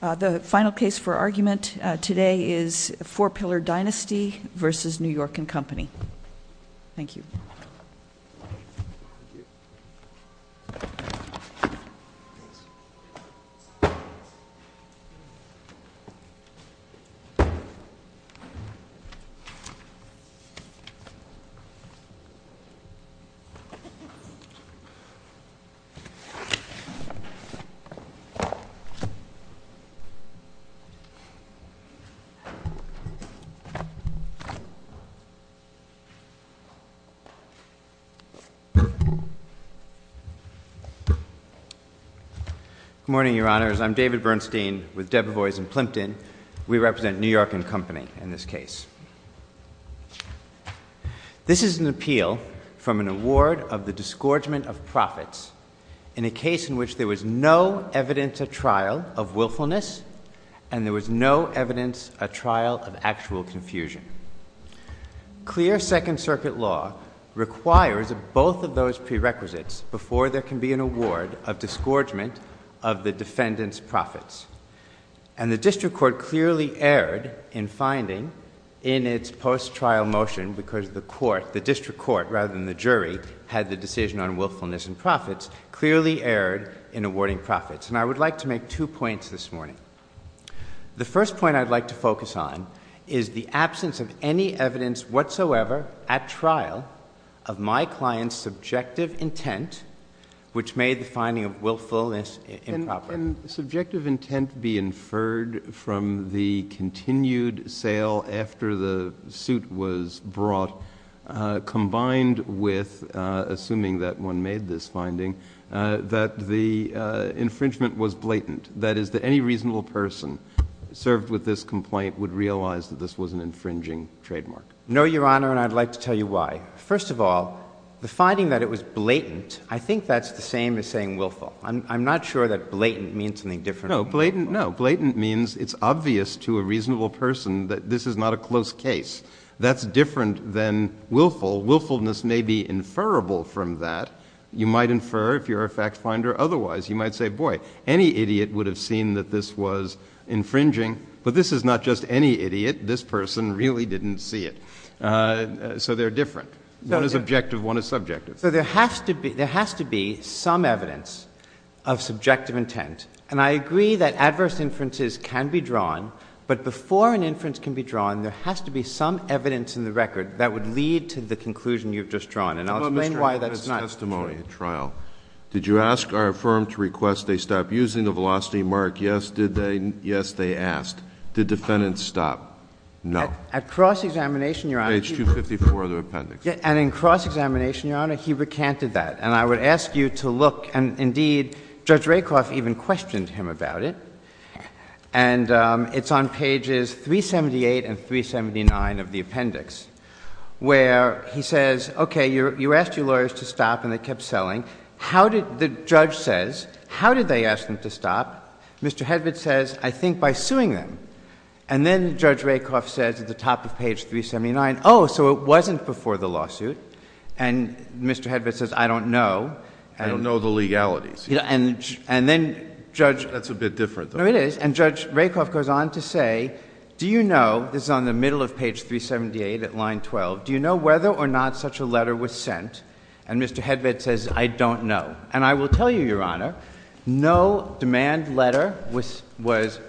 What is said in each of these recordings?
The final case for argument today is Four Pillar Dynasty v. New York and Company. Thank you. Good morning, Your Honors. I'm David Bernstein with Debevoise & Plimpton. We represent New York and Company in this case. This is an appeal from an award of the disgorgement of profits in a case in which there was no evidence at trial of willfulness and there was no evidence at trial of actual confusion. Clear Second Circuit law requires both of those prerequisites before there can be an award of disgorgement of the defendant's profits. And the district court clearly erred in finding in its post-trial motion, because the court, the district court rather than the jury, had the decision on willfulness and profits, clearly erred in awarding profits. And I would like to make two points this morning. The first point I'd like to focus on is the absence of any evidence whatsoever at trial of my client's subjective intent, which made the finding of willfulness improper. Can subjective intent be inferred from the continued sale after the suit was brought, combined with, assuming that one made this finding, that the infringement was blatant? That is, that any reasonable person served with this complaint would realize that this was an infringing trademark? No, Your Honor, and I'd like to tell you why. First of all, the finding that it was blatant, I think that's the same as saying willful. I'm not sure that blatant means something different. No, blatant, no. Blatant means it's obvious to a reasonable person that this is not a close case. That's different than willful. Willfulness may be inferrable from that. You might infer if you're a fact finder. Otherwise, you might say, boy, any idiot would have seen that this was infringing. But this is not just any idiot. This person really didn't see it. So they're different. One is objective. One is subjective. So there has to be some evidence of subjective intent. And I agree that adverse inferences can be drawn. But before an inference can be drawn, there has to be some evidence in the record that would lead to the conclusion you've just drawn. And I'll explain why that's not true. Mr. Huffman's testimony at trial, did you ask our firm to request they stop using the velocity mark? Yes, did they? Yes, they asked. Did defendants stop? No. At cross-examination, Your Honor, he recanted that. And I would ask you to look. And indeed, Judge Rakoff even questioned him about it. And it's on pages 378 and 379 of the appendix, where he says, OK, you asked your lawyers to stop, and they kept selling. The judge says, how did they ask them to stop? Mr. Hedvig says, I think by suing them. And then Judge Rakoff says at the top of page 379, oh, so it wasn't before the lawsuit. And Mr. Hedvig says, I don't know. I don't know the legalities. And then Judge— That's a bit different, though. No, it is. And Judge Rakoff goes on to say, do you know—this is on the middle of page 378 at line 12—do you know whether or not such a letter was sent? And Mr. Hedvig says, I don't know. And I will tell you, Your Honor, no demand letter was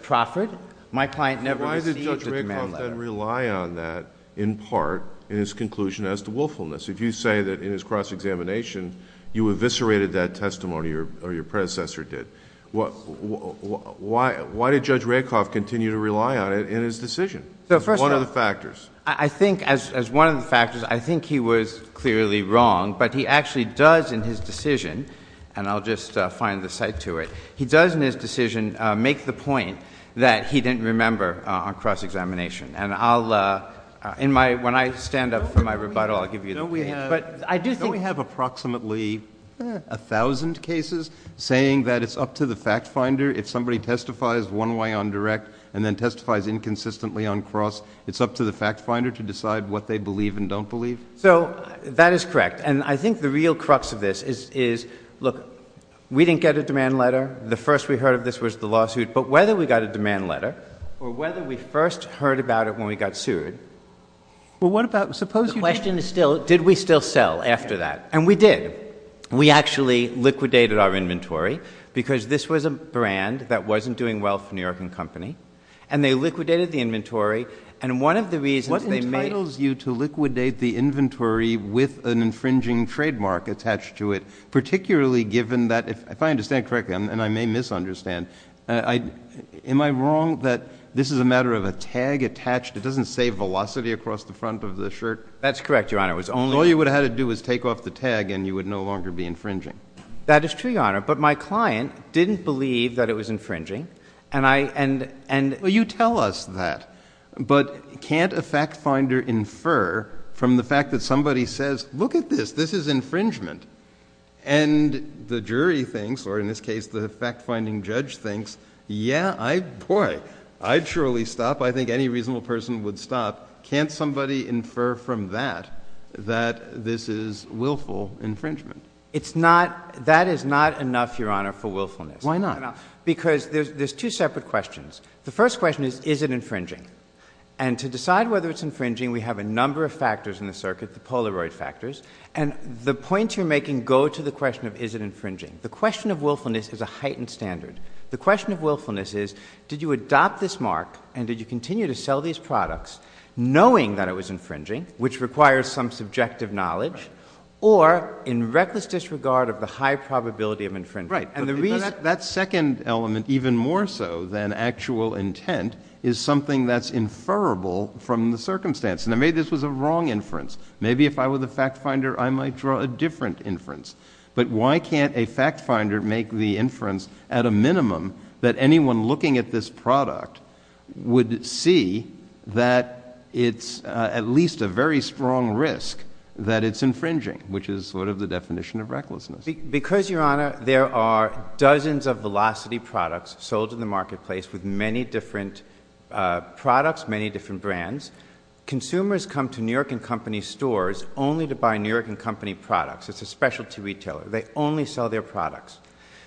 proffered. My client never received a demand letter. Why did Judge Rakoff then rely on that, in part, in his conclusion as to willfulness? If you say that in his cross-examination, you eviscerated that testimony, or your predecessor did, why did Judge Rakoff continue to rely on it in his decision as one of the factors? So, first off, I think as one of the factors, I think he was clearly wrong. But he actually does, in his decision—and I'll just find the cite to it—he does, in his decision, make the point that he didn't remember on cross-examination. And I'll—in my—when I stand up for my rebuttal, I'll give you the page. I do think— Don't we have approximately 1,000 cases saying that it's up to the fact finder, if somebody testifies one way on direct and then testifies inconsistently on cross, it's up to the fact finder to decide what they believe and don't believe? So, that is correct. And I think the real crux of this is, look, we didn't get a demand letter. The first we heard of this was the lawsuit. But whether we got a demand letter, or whether we first heard about it when we got sued— Well, what about— The question is still, did we still sell after that? And we did. We actually liquidated our inventory, because this was a brand that wasn't doing well for New York & Company. And they liquidated the inventory. And one of the reasons they made— What entitles you to liquidate the inventory with an infringing trademark attached to it, particularly given that, if I understand correctly, and I may misunderstand, am I wrong that this is a matter of a tag attached—it doesn't say velocity across the front of the shirt? That's correct, Your Honor. It was only— All you would have had to do was take off the tag, and you would no longer be infringing. That is true, Your Honor. But my client didn't believe that it was infringing. And I— Well, you tell us that. But can't a fact finder infer from the fact that somebody says, look at this, this is infringement. And the jury thinks, or in this case, the fact finding judge thinks, yeah, boy, I'd surely stop. I think any reasonable person would stop. Can't somebody infer from that that this is willful infringement? It's not—that is not enough, Your Honor, for willfulness. Why not? Because there's two separate questions. The first question is, is it infringing? And to decide whether it's infringing, we have a number of factors in the circuit, the Polaroid factors. And the points you're making go to the question of, is it infringing? The question of willfulness is a heightened standard. The question of willfulness is, did you adopt this mark, and did you continue to sell these products, knowing that it was infringing, which requires some subjective knowledge, or in reckless disregard of the high probability of infringement? Right. And the reason— That second element, even more so than actual intent, is something that's inferrable from the circumstance. And maybe this was a wrong inference. Maybe if I were the fact finder, I might draw a different inference. But why can't a fact finder make the inference at a minimum that anyone looking at this product would see that it's at least a very strong risk that it's infringing, which is sort of the definition of recklessness? Because, Your Honor, there are dozens of Velocity products sold in the marketplace with many different products, many different brands. Consumers come to New York and Company stores only to buy New York and Company products. It's a specialty retailer. They only sell their products.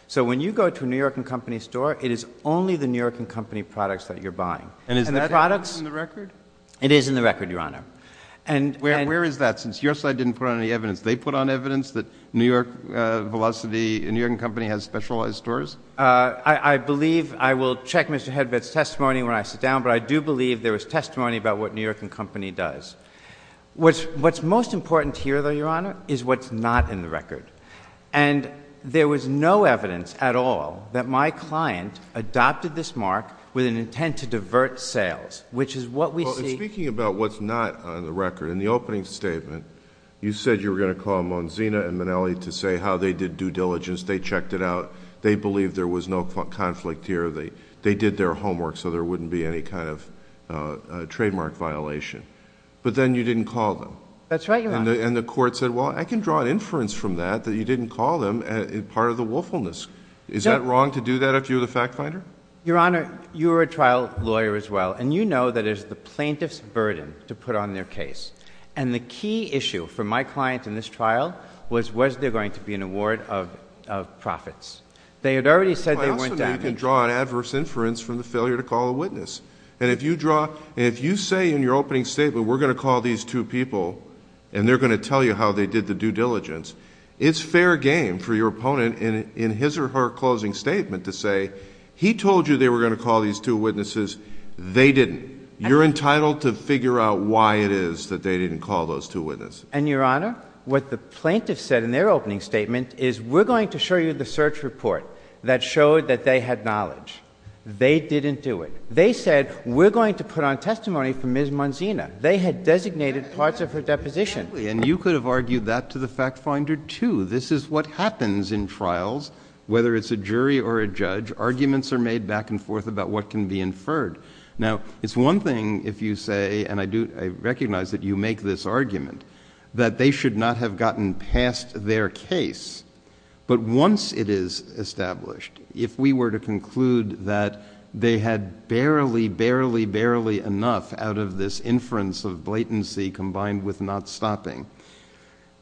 So when you go to a New York and Company store, it is only the New York and Company products that you're buying. And is that in the record? It is in the record, Your Honor. Where is that? Since your slide didn't put on any evidence, they put on evidence that New York and Company has specialized stores? I believe—I will check Mr. Hedbet's testimony when I sit down, but I do believe there was testimony about what New York and Company does. What's most important here, though, Your Honor, is what's not in the record. And there was no evidence at all that my client adopted this mark with an intent to divert sales, which is what we see— Speaking about what's not on the record, in the opening statement, you said you were going to call Monzina and Minnelli to say how they did due diligence. They checked it out. They believed there was no conflict here. They did their homework so there wouldn't be any kind of trademark violation. But then you didn't call them. That's right, Your Honor. And the court said, well, I can draw an inference from that, that you didn't call them, as part of the willfulness. Is that wrong to do that if you're the fact finder? Your Honor, you're a trial lawyer as well, and you know that it's the plaintiff's burden to put on their case. And the key issue for my client in this trial was, was there going to be an award of profits? They had already said they weren't— But also, you can draw an adverse inference from the failure to call a witness. And if you draw—and if you say in your opening statement, we're going to call these two people and they're going to tell you how they did the due diligence, it's fair game for your opponent in his or her closing statement to say, he told you they were going to call these two witnesses. They didn't. You're entitled to figure out why it is that they didn't call those two witnesses. And, Your Honor, what the plaintiff said in their opening statement is, we're going to show you the search report that showed that they had knowledge. They didn't do it. They said, we're going to put on testimony for Ms. Monzina. They had designated parts of her deposition. And you could have argued that to the fact finder, too. This is what happens in trials, whether it's a jury or a judge. Arguments are made back and forth about what can be inferred. Now, it's one thing if you say, and I recognize that you make this argument, that they should not have gotten past their case. But once it is established, if we were to conclude that they had barely, barely, barely enough out of this inference of blatancy combined with not stopping,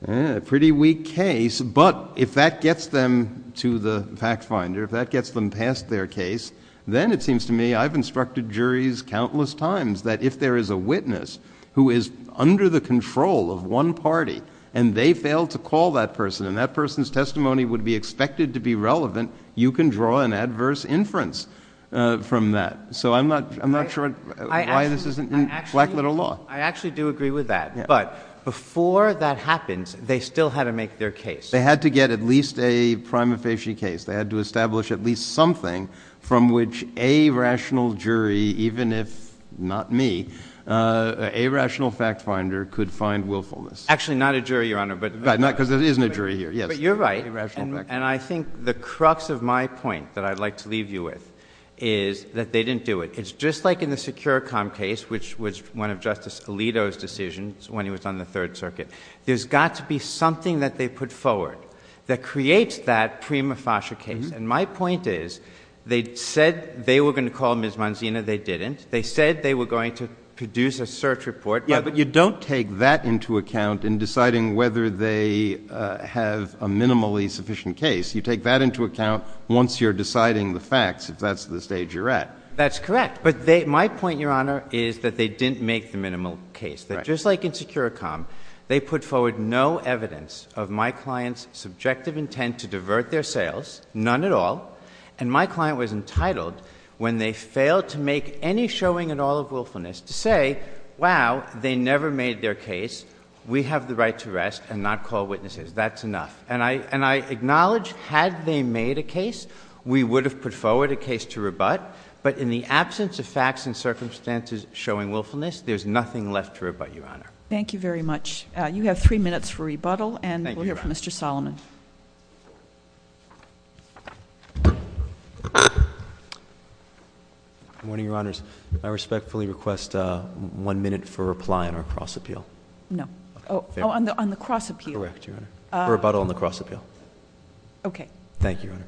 a pretty weak case. But if that gets them to the fact finder, if that gets them past their case, then it seems to me I've instructed juries countless times that if there is a witness who is under the control of one party, and they fail to call that person, and that person's testimony would be expected to be relevant, you can draw an adverse inference from that. So I'm not sure why this isn't in black little law. I actually do agree with that. But before that happens, they still had to make their case. They had to get at least a prima facie case. They had to establish at least something from which a rational jury, even if not me, a rational fact finder could find willfulness. Actually, not a jury, Your Honor. But not because there isn't a jury here. Yes. But you're right. And I think the crux of my point that I'd like to leave you with is that they didn't do it. It's just like in the Securicom case, which was one of Justice Alito's decisions when he was on the Third Circuit. There's got to be something that they put forward that creates that prima facie case. And my point is they said they were going to call Ms. Manzino. They didn't. They said they were going to produce a search report. Yeah. But you don't take that into account in deciding whether they have a minimally sufficient case. You take that into account once you're deciding the facts, if that's the stage you're at. That's correct. But my point, Your Honor, is that they didn't make the minimal case. Just like in Securicom, they put forward no evidence of my client's subjective intent to divert their sales, none at all. And my client was entitled, when they failed to make any showing at all of willfulness, to say, wow, they never made their case. We have the right to rest and not call witnesses. That's enough. And I acknowledge, had they made a case, we would have put forward a case to rebut. But in the absence of facts and circumstances showing willfulness, there's nothing left to rebut, Your Honor. Thank you very much. You have three minutes for rebuttal. And we'll hear from Mr. Solomon. Good morning, Your Honors. I respectfully request one minute for reply on our cross-appeal. No. Oh, on the cross-appeal. Correct, Your Honor. Rebuttal on the cross-appeal. OK. Thank you, Your Honor.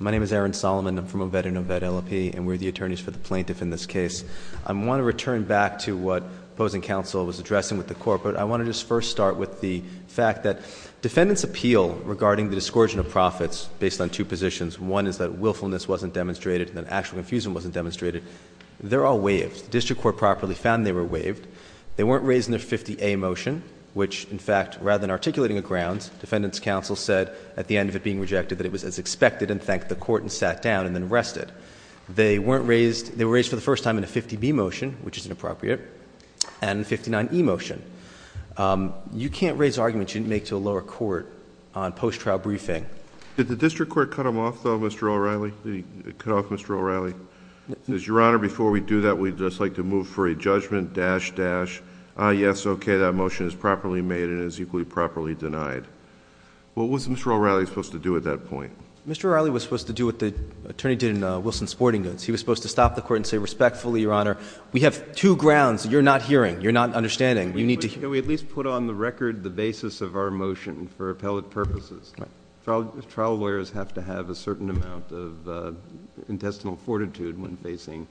My name is Aaron Solomon. I'm from Obed and Obed LLP. And we're the attorneys for the plaintiff in this case. I want to return back to what opposing counsel was addressing with the court. But I want to just first start with the fact that defendant's appeal regarding the discouraging of profits based on two positions, one is that willfulness wasn't demonstrated, and that actual confusion wasn't demonstrated, they're all waived. The district court properly found they were waived. They weren't raised in their 50A motion, which in fact, rather than articulating a grounds, defendant's counsel said at the end of it being rejected that it was as expected and thanked the court and sat down and then rested. They were raised for the first time in a 50B motion, which is inappropriate, and 59E motion. You can't raise arguments you didn't make to a lower court on post-trial briefing. Did the district court cut them off, though, Mr. O'Reilly? Did it cut off Mr. O'Reilly? Your Honor, before we do that, we'd just like to move for a judgment, dash, dash. Yes, okay, that motion is properly made and is equally properly denied. What was Mr. O'Reilly supposed to do at that point? Mr. O'Reilly was supposed to do what the attorney did in Wilson Sporting Goods. He was supposed to stop the court and say respectfully, Your Honor, we have two grounds you're not hearing, you're not understanding, you need to hear. Can we at least put on the record the basis of our motion for appellate purposes? Trial lawyers have to have a certain amount of intestinal fortitude when facing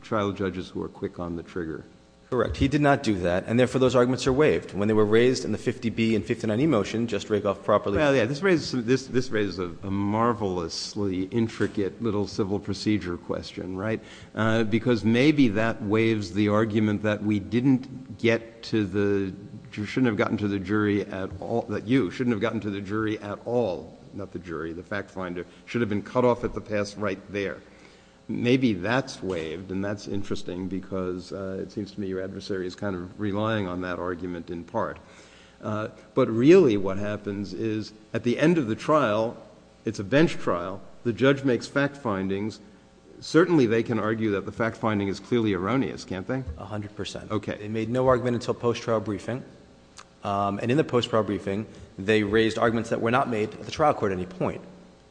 trial judges who are quick on the trigger. Correct. He did not do that, and therefore those arguments are waived. When they were raised in the 50B and 59E motion, just rake off properly. Well, yeah, this raises a marvelously intricate little civil procedure question, right? Because maybe that waives the argument that we didn't get to the, shouldn't have gotten to the jury at all, that you shouldn't have gotten to the jury at all, not the jury, the fact finder, should have been cut off at the pass right there. Maybe that's waived, and that's interesting because it seems to me your adversary is kind of relying on that argument in part. But really what happens is at the end of the trial, it's a bench trial, the judge makes fact findings. Certainly they can argue that the fact finding is clearly erroneous, can't they? A hundred percent. Okay. Made no argument until post-trial briefing. And in the post-trial briefing, they raised arguments that were not made at the trial court at any point.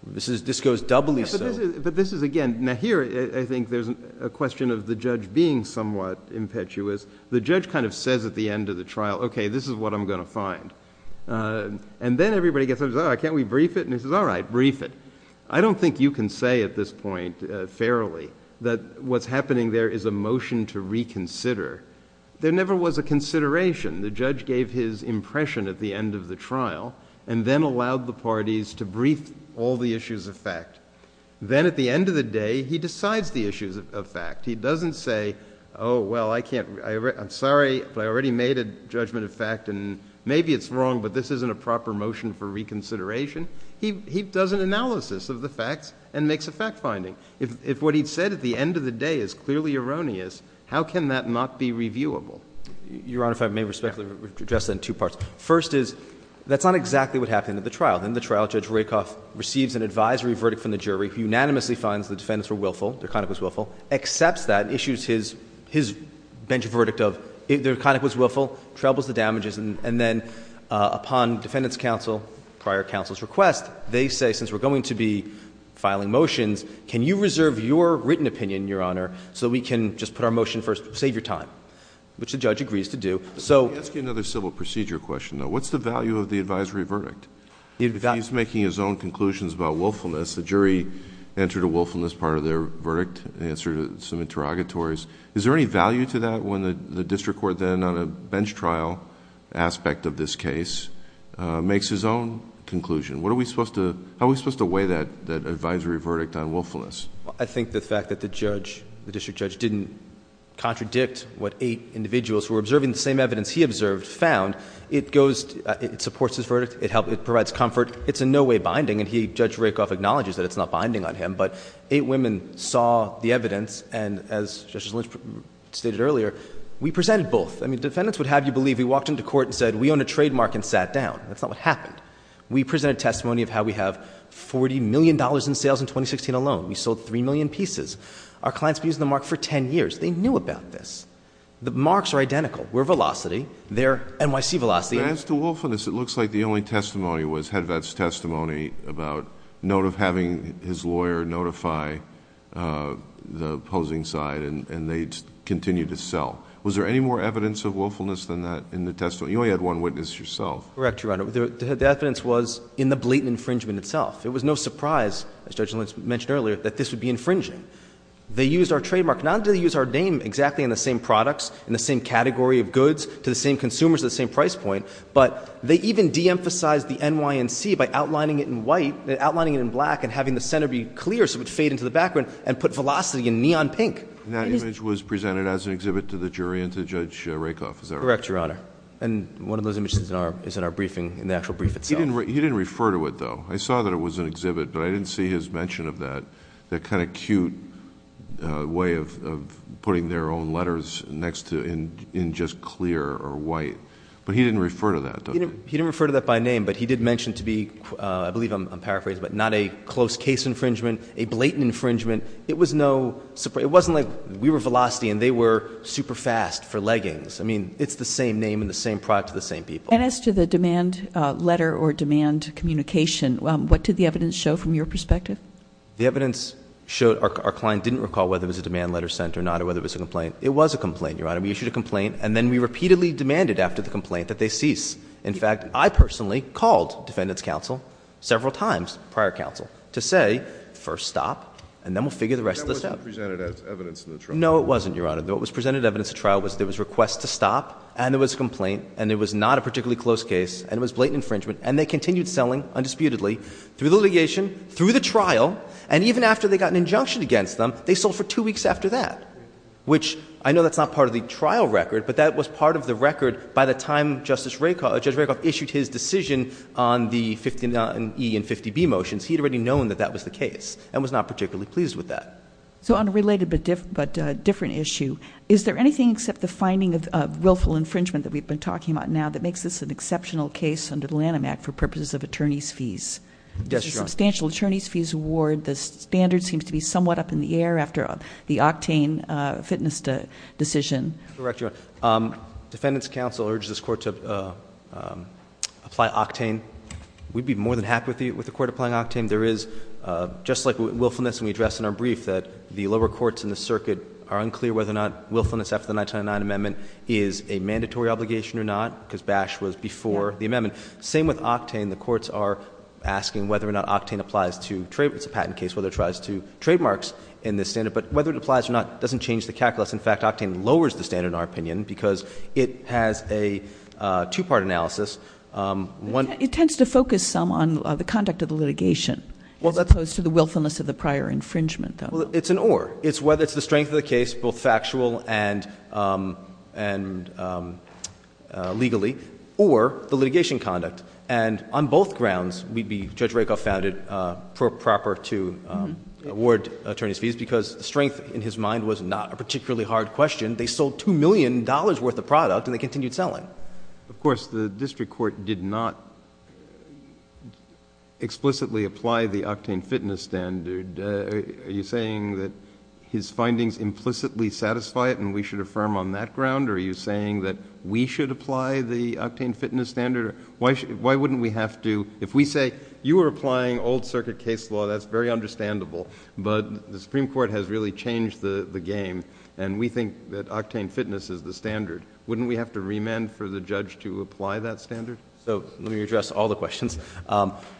This goes doubly so. But this is, again, now here I think there's a question of the judge being somewhat impetuous. The judge kind of says at the end of the trial, okay, this is what I'm going to find. And then everybody gets, oh, can't we brief it? And he says, all right, brief it. I don't think you can say at this point fairly that what's happening there is a motion to reconsider. There never was a consideration. The judge gave his impression at the end of the trial and then allowed the parties to brief all the issues of fact. Then at the end of the day, he decides the issues of fact. He doesn't say, oh, well, I can't, I'm sorry, but I already made a judgment of fact. And maybe it's wrong, but this isn't a proper motion for reconsideration. He does an analysis of the facts and makes a fact finding. If what he said at the end of the day is clearly erroneous, how can that not be reviewable? CLEMENT. Your Honor, if I may respectfully address that in two parts. First is, that's not exactly what happened at the trial. In the trial, Judge Rakoff receives an advisory verdict from the jury who unanimously finds the defendants were willful, DeConnick was willful, accepts that, issues his bench verdict of DeConnick was willful, travels the damages, and then upon defendant's counsel, prior counsel's request, they say, since we're going to be filing motions, can you reserve your written opinion, Your Honor, so we can just put our motion first, save your time, which the judge agrees to do. JUSTICE ALITO. Let me ask you another civil procedure question, though. What's the value of the advisory verdict? If he's making his own conclusions about willfulness, the jury entered a willfulness part of their verdict, answered some interrogatories. Is there any value to that when the district court then, on a bench trial aspect of this case, makes his own conclusion? What are we supposed to, how are we supposed to weigh that advisory verdict on willfulness? CLEMENT. I think the fact that the judge, the district judge, didn't contradict what eight individuals who were observing the same evidence he observed found, it goes, it supports his verdict, it provides comfort, it's in no way binding, and Judge Rakoff acknowledges that it's not binding on him, but eight women saw the evidence, and as Justice Lynch stated earlier, we presented both. I mean, defendants would have you believe we walked into court and said, we own a trademark and sat down. That's not what happened. We presented testimony of how we have $40 million in sales in 2016 alone. We sold 3 million pieces. Our clients have been using the mark for 10 years. They knew about this. The marks are identical. We're Velocity. They're NYC Velocity. THE COURT. As to willfulness, it looks like the only testimony was Hedvett's testimony about note of having his lawyer notify the opposing side, and they continued to sell. Was there any more evidence of willfulness than that in the testimony? You only had one witness yourself. Correct, Your Honor. The evidence was in the blatant infringement itself. It was no surprise, as Judge Lynch mentioned earlier, that this would be infringing. They used our trademark. Not only did they use our name exactly in the same products, in the same category of goods, to the same consumers at the same price point, but they even de-emphasized the NYNC by outlining it in white, outlining it in black, and having the center be clear so it would fade into the background, and put Velocity in neon pink. And that image was presented as an exhibit to the jury and to Judge Rakoff, is that right? Correct, Your Honor. And one of those images is in our briefing, in the actual brief itself. He didn't refer to it, though. I saw that it was an exhibit, but I didn't see his mention of that, that kind of cute way of putting their own letters next to, in just clear or white. But he didn't refer to that, though. He didn't refer to that by name, but he did mention to be, I believe I'm paraphrasing, but not a close case infringement, a blatant infringement. It was no surprise. It wasn't like we were Velocity and they were super fast for leggings. I mean, it's the same name and the same product to the same people. And as to the demand letter or demand communication, what did the evidence show from your perspective? The evidence showed our client didn't recall whether it was a demand letter sent or not, or whether it was a complaint. It was a complaint, Your Honor. We issued a complaint, and then we repeatedly demanded after the complaint that they cease. In fact, I personally called Defendant's Counsel several times, prior counsel, to say, first stop, and then we'll figure the rest of this out. That wasn't presented as evidence in the trial? No, it wasn't, Your Honor. What was presented as evidence in the trial was there was a request to stop, and there was a complaint, and it was not a particularly close case, and it was blatant infringement, and they continued selling, undisputedly, through the litigation, through the trial, and even after they got an injunction against them, they sold for two weeks after that, which I know that's not part of the trial record, but that was part of the record by the time Judge Rakoff issued his decision on the 59E and 50B motions. He had already known that that was the case and was not particularly pleased with that. So on a related but different issue, is there anything except the finding of willful infringement that we've been talking about now that makes this an exceptional case under the Lanham Act for purposes of attorney's fees? Yes, Your Honor. There's a substantial attorney's fees award. The standard seems to be somewhat up in the air after the Octane fitness decision. Correct, Your Honor. Defendant's Counsel urged this court to apply Octane. We'd be more than happy with the court applying Octane. There is, just like willfulness, and we address in our brief that the lower courts in the circuit are unclear whether or not willfulness after the 1909 amendment is a mandatory obligation or not, because Bash was before the amendment. Same with Octane. The courts are asking whether or not Octane applies to trade. It's a patent case, whether it applies to trademarks in this standard. But whether it applies or not doesn't change the calculus. In fact, Octane lowers the standard, in our opinion, because it has a two-part analysis. It tends to focus some on the conduct of the litigation as opposed to the willfulness of the prior infringement, though. Well, it's an or. It's whether it's the strength of the case, both factual and legally, or the litigation conduct. And on both grounds, Judge Rakoff found it proper to award attorney's fees, because strength, in his mind, was not a particularly hard question. They sold $2 million worth of product, and they continued selling. Of course, the district court did not explicitly apply the Octane fitness standard. Are you saying that his findings implicitly satisfy it, and we should affirm on that ground? Or are you saying that we should apply the Octane fitness standard? Why wouldn't we have to? If we say, you are applying old circuit case law, that's very understandable. But the Supreme Court has really changed the game, and we think that Octane fitness is the standard. Wouldn't we have to remand for the judge to apply that standard? So let me address all the questions.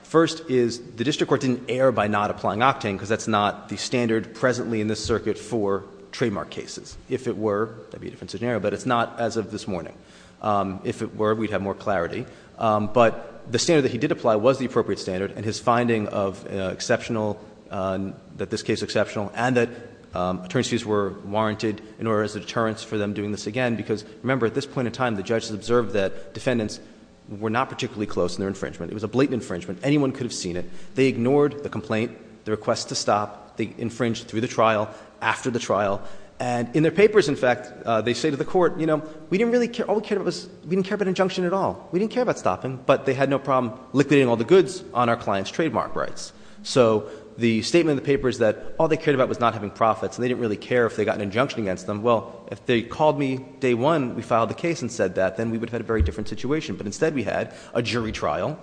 First is, the district court didn't err by not applying Octane, because that's not the standard presently in this circuit for trademark cases. If it were, that would be a different scenario, but it's not as of this morning. If it were, we'd have more clarity. But the standard that he did apply was the appropriate standard, and his finding of exceptional, that this case is exceptional, and that attorney's fees were warranted in order as a deterrence for them doing this again. Because remember, at this point in time, the judges observed that defendants were not particularly close in their infringement. It was a blatant infringement. Anyone could have seen it. They ignored the complaint, the request to stop. They infringed through the trial, after the trial. And in their papers, in fact, they say to the court, you know, we didn't really care, all we cared about was, we didn't care about injunction at all. We didn't care about stopping. But they had no problem liquidating all the goods on our client's trademark rights. So the statement in the paper is that all they cared about was not having profits, and they didn't really care if they got an injunction against them. Well, if they called me day one, we filed the case and said that, then we would have had a very different situation. But instead, we had a jury trial,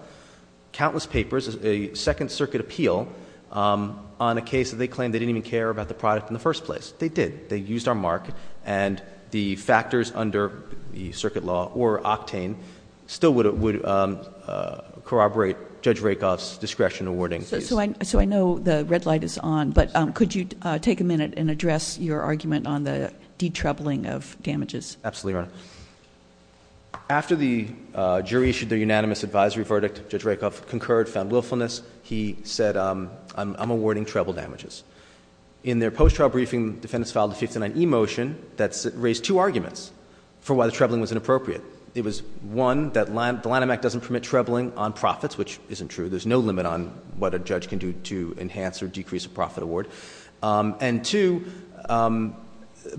countless papers, a Second Circuit appeal on a case that they claimed they didn't even care about the product in the first place. They did. They used our mark. And the factors under the Circuit Law or Octane still would corroborate Judge Rakoff's discretion in awarding these. So I know the red light is on, but could you take a minute and address your argument on the detrebling of damages? Absolutely, Your Honor. After the jury issued their unanimous advisory verdict, Judge Rakoff concurred, found willfulness. He said, I'm awarding treble damages. In their post-trial briefing, defendants filed a 59e motion that raised two arguments for why the trebling was inappropriate. It was, one, that the line of Mac doesn't permit trebling on profits, which isn't true. There's no limit on what a judge can do to enhance or decrease a profit award. And two,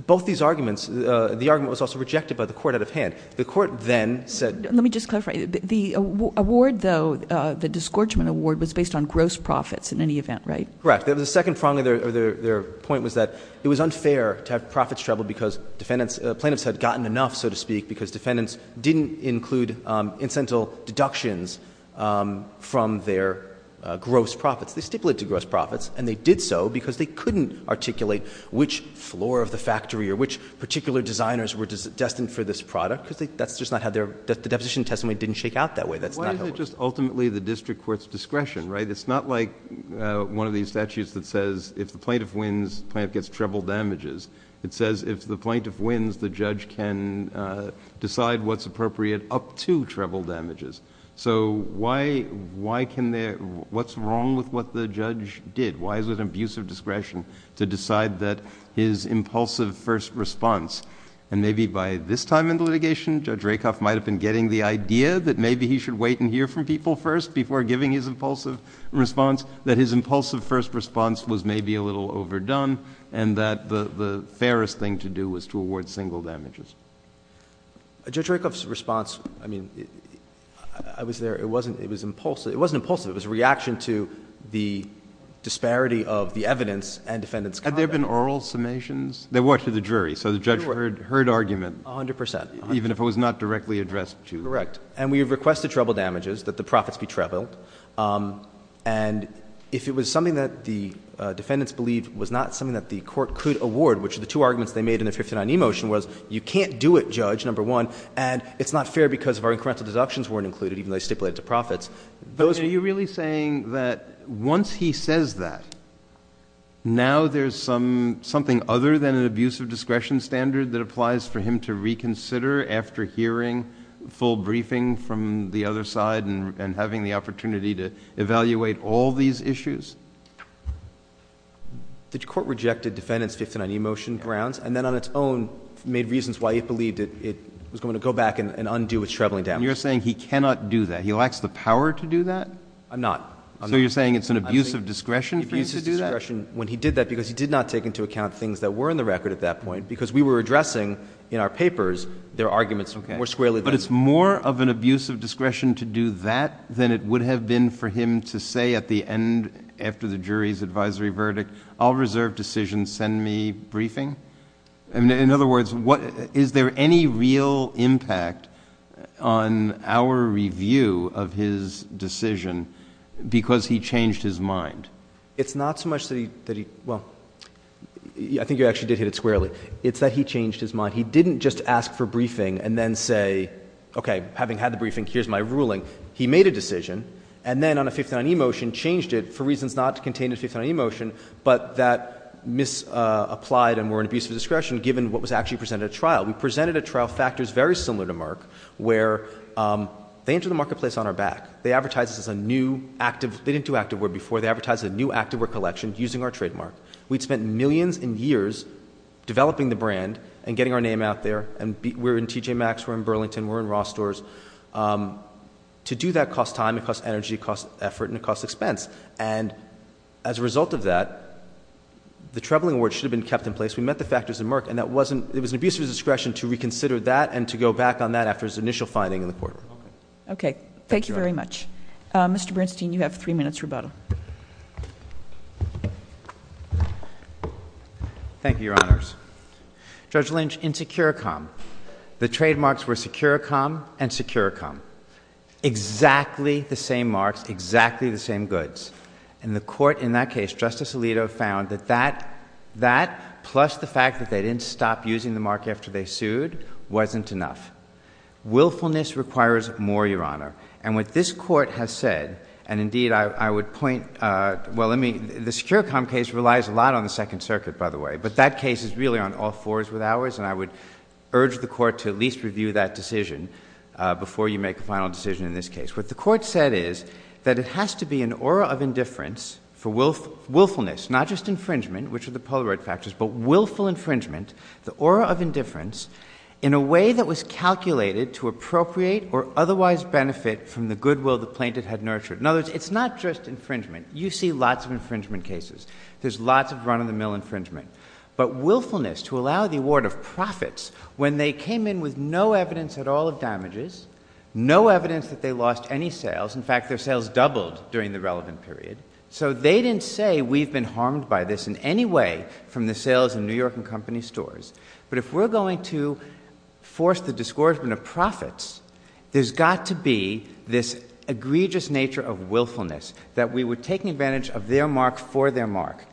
both these arguments, the argument was also rejected by the Court out of hand. The Court then said— Let me just clarify. The award, though, the disgorgement award, was based on gross profits in any event, right? Correct. The second prong of their point was that it was unfair to have profits trebled because defendants, plaintiffs had gotten enough, so to speak, because defendants didn't include incentive deductions from their gross profits. They stipulated to gross profits, and they did so because they couldn't articulate which floor of the factory or which particular designers were destined for this product, because that's just not how their—the deposition testimony didn't shake out that way. Why is it just ultimately the district court's discretion, right? It's not like one of these statutes that says if the plaintiff wins, the plaintiff gets treble damages. It says if the plaintiff wins, the judge can decide what's appropriate up to treble damages. So why can they—what's wrong with what the judge did? Why is it an abusive discretion to decide that his impulsive first response—and maybe by this time in the litigation, Judge Rakoff might have been getting the idea that maybe he should wait and hear from people first before giving his impulsive response—that his impulsive first response was maybe a little overdone and that the fairest thing to do was to award single damages? Judge Rakoff's response—I mean, I was there. It wasn't—it was impulsive. It wasn't impulsive. It was a reaction to the disparity of the evidence and defendant's conduct. Had there been oral summations? There were to the jury. So the judge heard argument. A hundred percent. Even if it was not directly addressed to— Correct. And we have requested treble damages, that the profits be trebled. And if it was something that the defendants believed was not something that the two arguments they made in the 59E motion was, you can't do it, Judge, number one, and it's not fair because our incremental deductions weren't included, even though they stipulated to profits, those— Are you really saying that once he says that, now there's something other than an abusive discretion standard that applies for him to reconsider after hearing full briefing from the other side and having the opportunity to evaluate all these issues? The court rejected defendant's 59E motion grounds and then on its own made reasons why it believed it was going to go back and undo its trebling damages. And you're saying he cannot do that? He lacks the power to do that? I'm not. So you're saying it's an abusive discretion for him to do that? Abusive discretion when he did that because he did not take into account things that were in the record at that point because we were addressing in our papers their arguments more squarely than— Okay. But it's more of an abusive discretion to do that than it would have been for him to at the end after the jury's advisory verdict, I'll reserve decisions, send me briefing? In other words, is there any real impact on our review of his decision because he changed his mind? It's not so much that he—well, I think you actually did hit it squarely. It's that he changed his mind. He didn't just ask for briefing and then say, okay, having had the briefing, here's my ruling. He made a decision and then on a 59E motion changed it for reasons not contained in 59E motion but that misapplied and were an abusive discretion given what was actually presented at trial. We presented at trial factors very similar to Mark where they entered the marketplace on our back. They advertised as a new active—they didn't do active work before. They advertised a new active work collection using our trademark. We'd spent millions and years developing the brand and getting our name out there and we're in TJ Maxx, we're in Burlington, we're in Ross stores. To do that costs time, it costs energy, it costs effort, and it costs expense. And as a result of that, the troubling award should have been kept in place. We met the factors in Mark and that wasn't—it was an abusive discretion to reconsider that and to go back on that after his initial finding in the courtroom. Okay. Thank you very much. Mr. Bernstein, you have three minutes rebuttal. Thank you, Your Honors. Judge Lynch, in Securicom, the trademarks were Securicom and Securicom. Exactly the same marks, exactly the same goods. And the Court in that case, Justice Alito, found that that, plus the fact that they didn't stop using the mark after they sued, wasn't enough. Willfulness requires more, Your Honor. And what this Court has said, and indeed I would point—well, let me—the Securicom case relies a lot on the Second Circuit, by the way, but that case is really on all fours and I would urge the Court to at least review that decision before you make a final decision in this case. What the Court said is that it has to be an aura of indifference for willfulness, not just infringement, which are the Polaroid factors, but willful infringement, the aura of indifference, in a way that was calculated to appropriate or otherwise benefit from the goodwill the plaintiff had nurtured. In other words, it's not just infringement. You see lots of infringement cases. There's lots of run-of-the-mill infringement. But willfulness, to allow the award of profits when they came in with no evidence at all of damages, no evidence that they lost any sales—in fact, their sales doubled during the relevant period—so they didn't say we've been harmed by this in any way from the sales in New York and company stores. But if we're going to force the disgorgement of profits, there's got to be this egregious nature of willfulness, that we were taking advantage of their mark for their mark.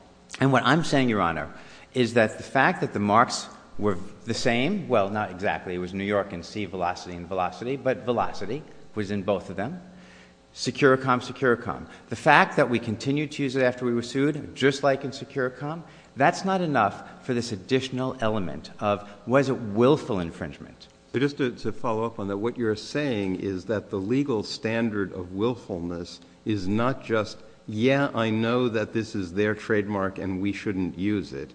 And what I'm saying, Your Honor, is that the fact that the marks were the same—well, not exactly. It was New York and C Velocity and Velocity, but Velocity was in both of them. Securicom, Securicom. The fact that we continued to use it after we were sued, just like in Securicom, that's not enough for this additional element of, was it willful infringement? JUSTICE BREYER. Just to follow up on that, what you're saying is that the legal standard of willfulness is not just, yeah, I know that this is their trademark and we shouldn't use it.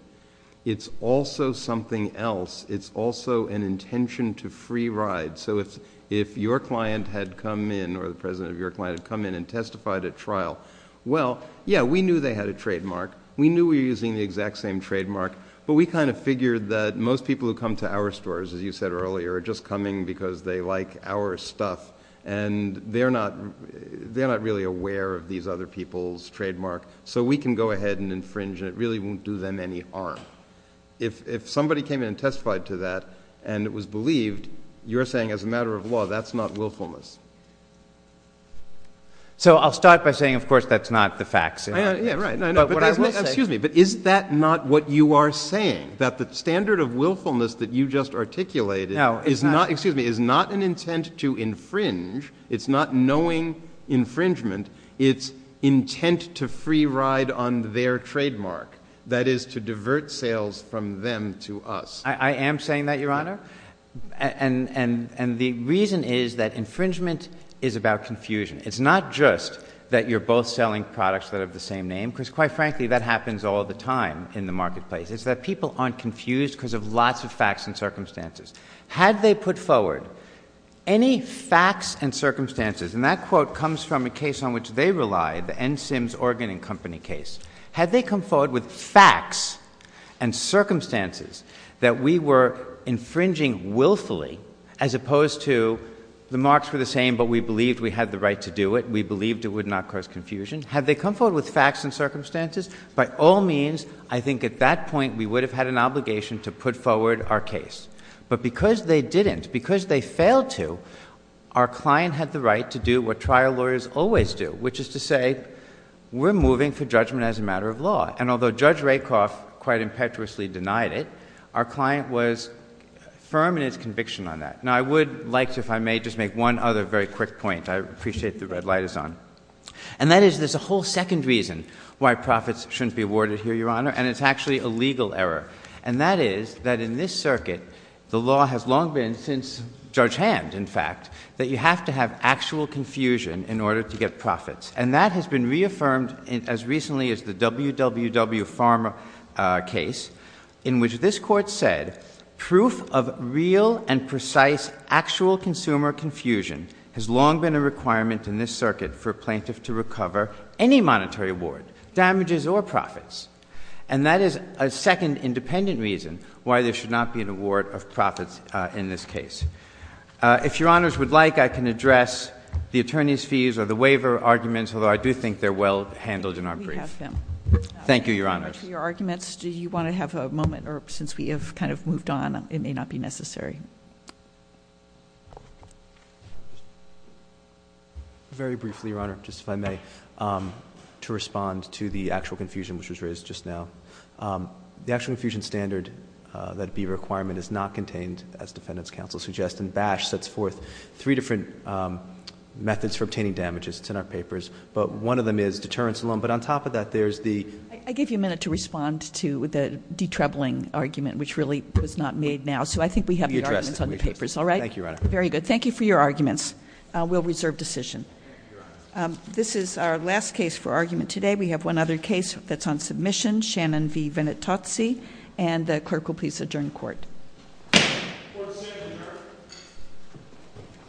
It's also something else. It's also an intention to free ride. So if your client had come in or the president of your client had come in and testified at trial, well, yeah, we knew they had a trademark. We knew we were using the exact same trademark. But we kind of figured that most people who come to our stores, as you said earlier, are just coming because they like our stuff. And they're not really aware of these other people's trademark. So we can go ahead and infringe and it really won't do them any harm. If somebody came in and testified to that and it was believed, you're saying as a matter of law, that's not willfulness. JUSTICE BREYER. So I'll start by saying, of course, that's not the facts. JUSTICE BREYER. No, I know. But what I will say— JUSTICE BREYER. Excuse me, but is that not what you are saying? JUSTICE BREYER. No, it's not. JUSTICE BREYER. Excuse me. It's not an intent to infringe. It's not knowing infringement. It's intent to free ride on their trademark, that is, to divert sales from them to us. JUSTICE BREYER. I am saying that, Your Honor. And the reason is that infringement is about confusion. It's not just that you're both selling products that have the same name, because, quite frankly, that happens all the time in the marketplace. It's that people aren't confused because of lots of facts and circumstances. Had they put forward any facts and circumstances—and that quote comes from a case on which they relied, the N. Sims Organ and Company case—had they come forward with facts and circumstances that we were infringing willfully, as opposed to the marks were the same but we believed we had the right to do it, we believed it would not cause confusion, had they come forward with facts and circumstances, by all means, I think at that point we would have had an obligation to put forward our case. But because they didn't, because they failed to, our client had the right to do what trial lawyers always do, which is to say, we're moving for judgment as a matter of law. And although Judge Rakoff quite impetuously denied it, our client was firm in its conviction on that. Now, I would like to, if I may, just make one other very quick point. I appreciate the red light is on. And that is there's a whole second reason why profits shouldn't be awarded here, Your Honor, and it's actually a legal error. And that is that in this circuit, the law has long been, since Judge Hand, in fact, that you have to have actual confusion in order to get profits. And that has been reaffirmed as recently as the WWW Pharma case, in which this Court said, proof of real and precise actual consumer confusion has long been a requirement in this circuit for a plaintiff to recover any monetary award, damages or profits. And that is a second independent reason why there should not be an award of profits in this case. If Your Honors would like, I can address the attorney's fees or the waiver arguments, although I do think they're well handled in our brief. We have them. Thank you, Your Honors. To your arguments, do you want to have a moment? Or since we have kind of moved on, it may not be necessary. Very briefly, Your Honor, just if I may, to respond to the actual confusion which was just now, the actual confusion standard, that be requirement, is not contained, as Defendant's counsel suggests. And BASH sets forth three different methods for obtaining damages. It's in our papers. But one of them is deterrence alone. But on top of that, there's the- I give you a minute to respond to the detrebling argument, which really was not made now. So I think we have the arguments on the papers. All right? Thank you, Your Honor. Very good. Thank you for your arguments. We'll reserve decision. This is our last case for argument today. We have one other case that's on submission. Shannon V. Vinatozzi. And the clerk will please adjourn court.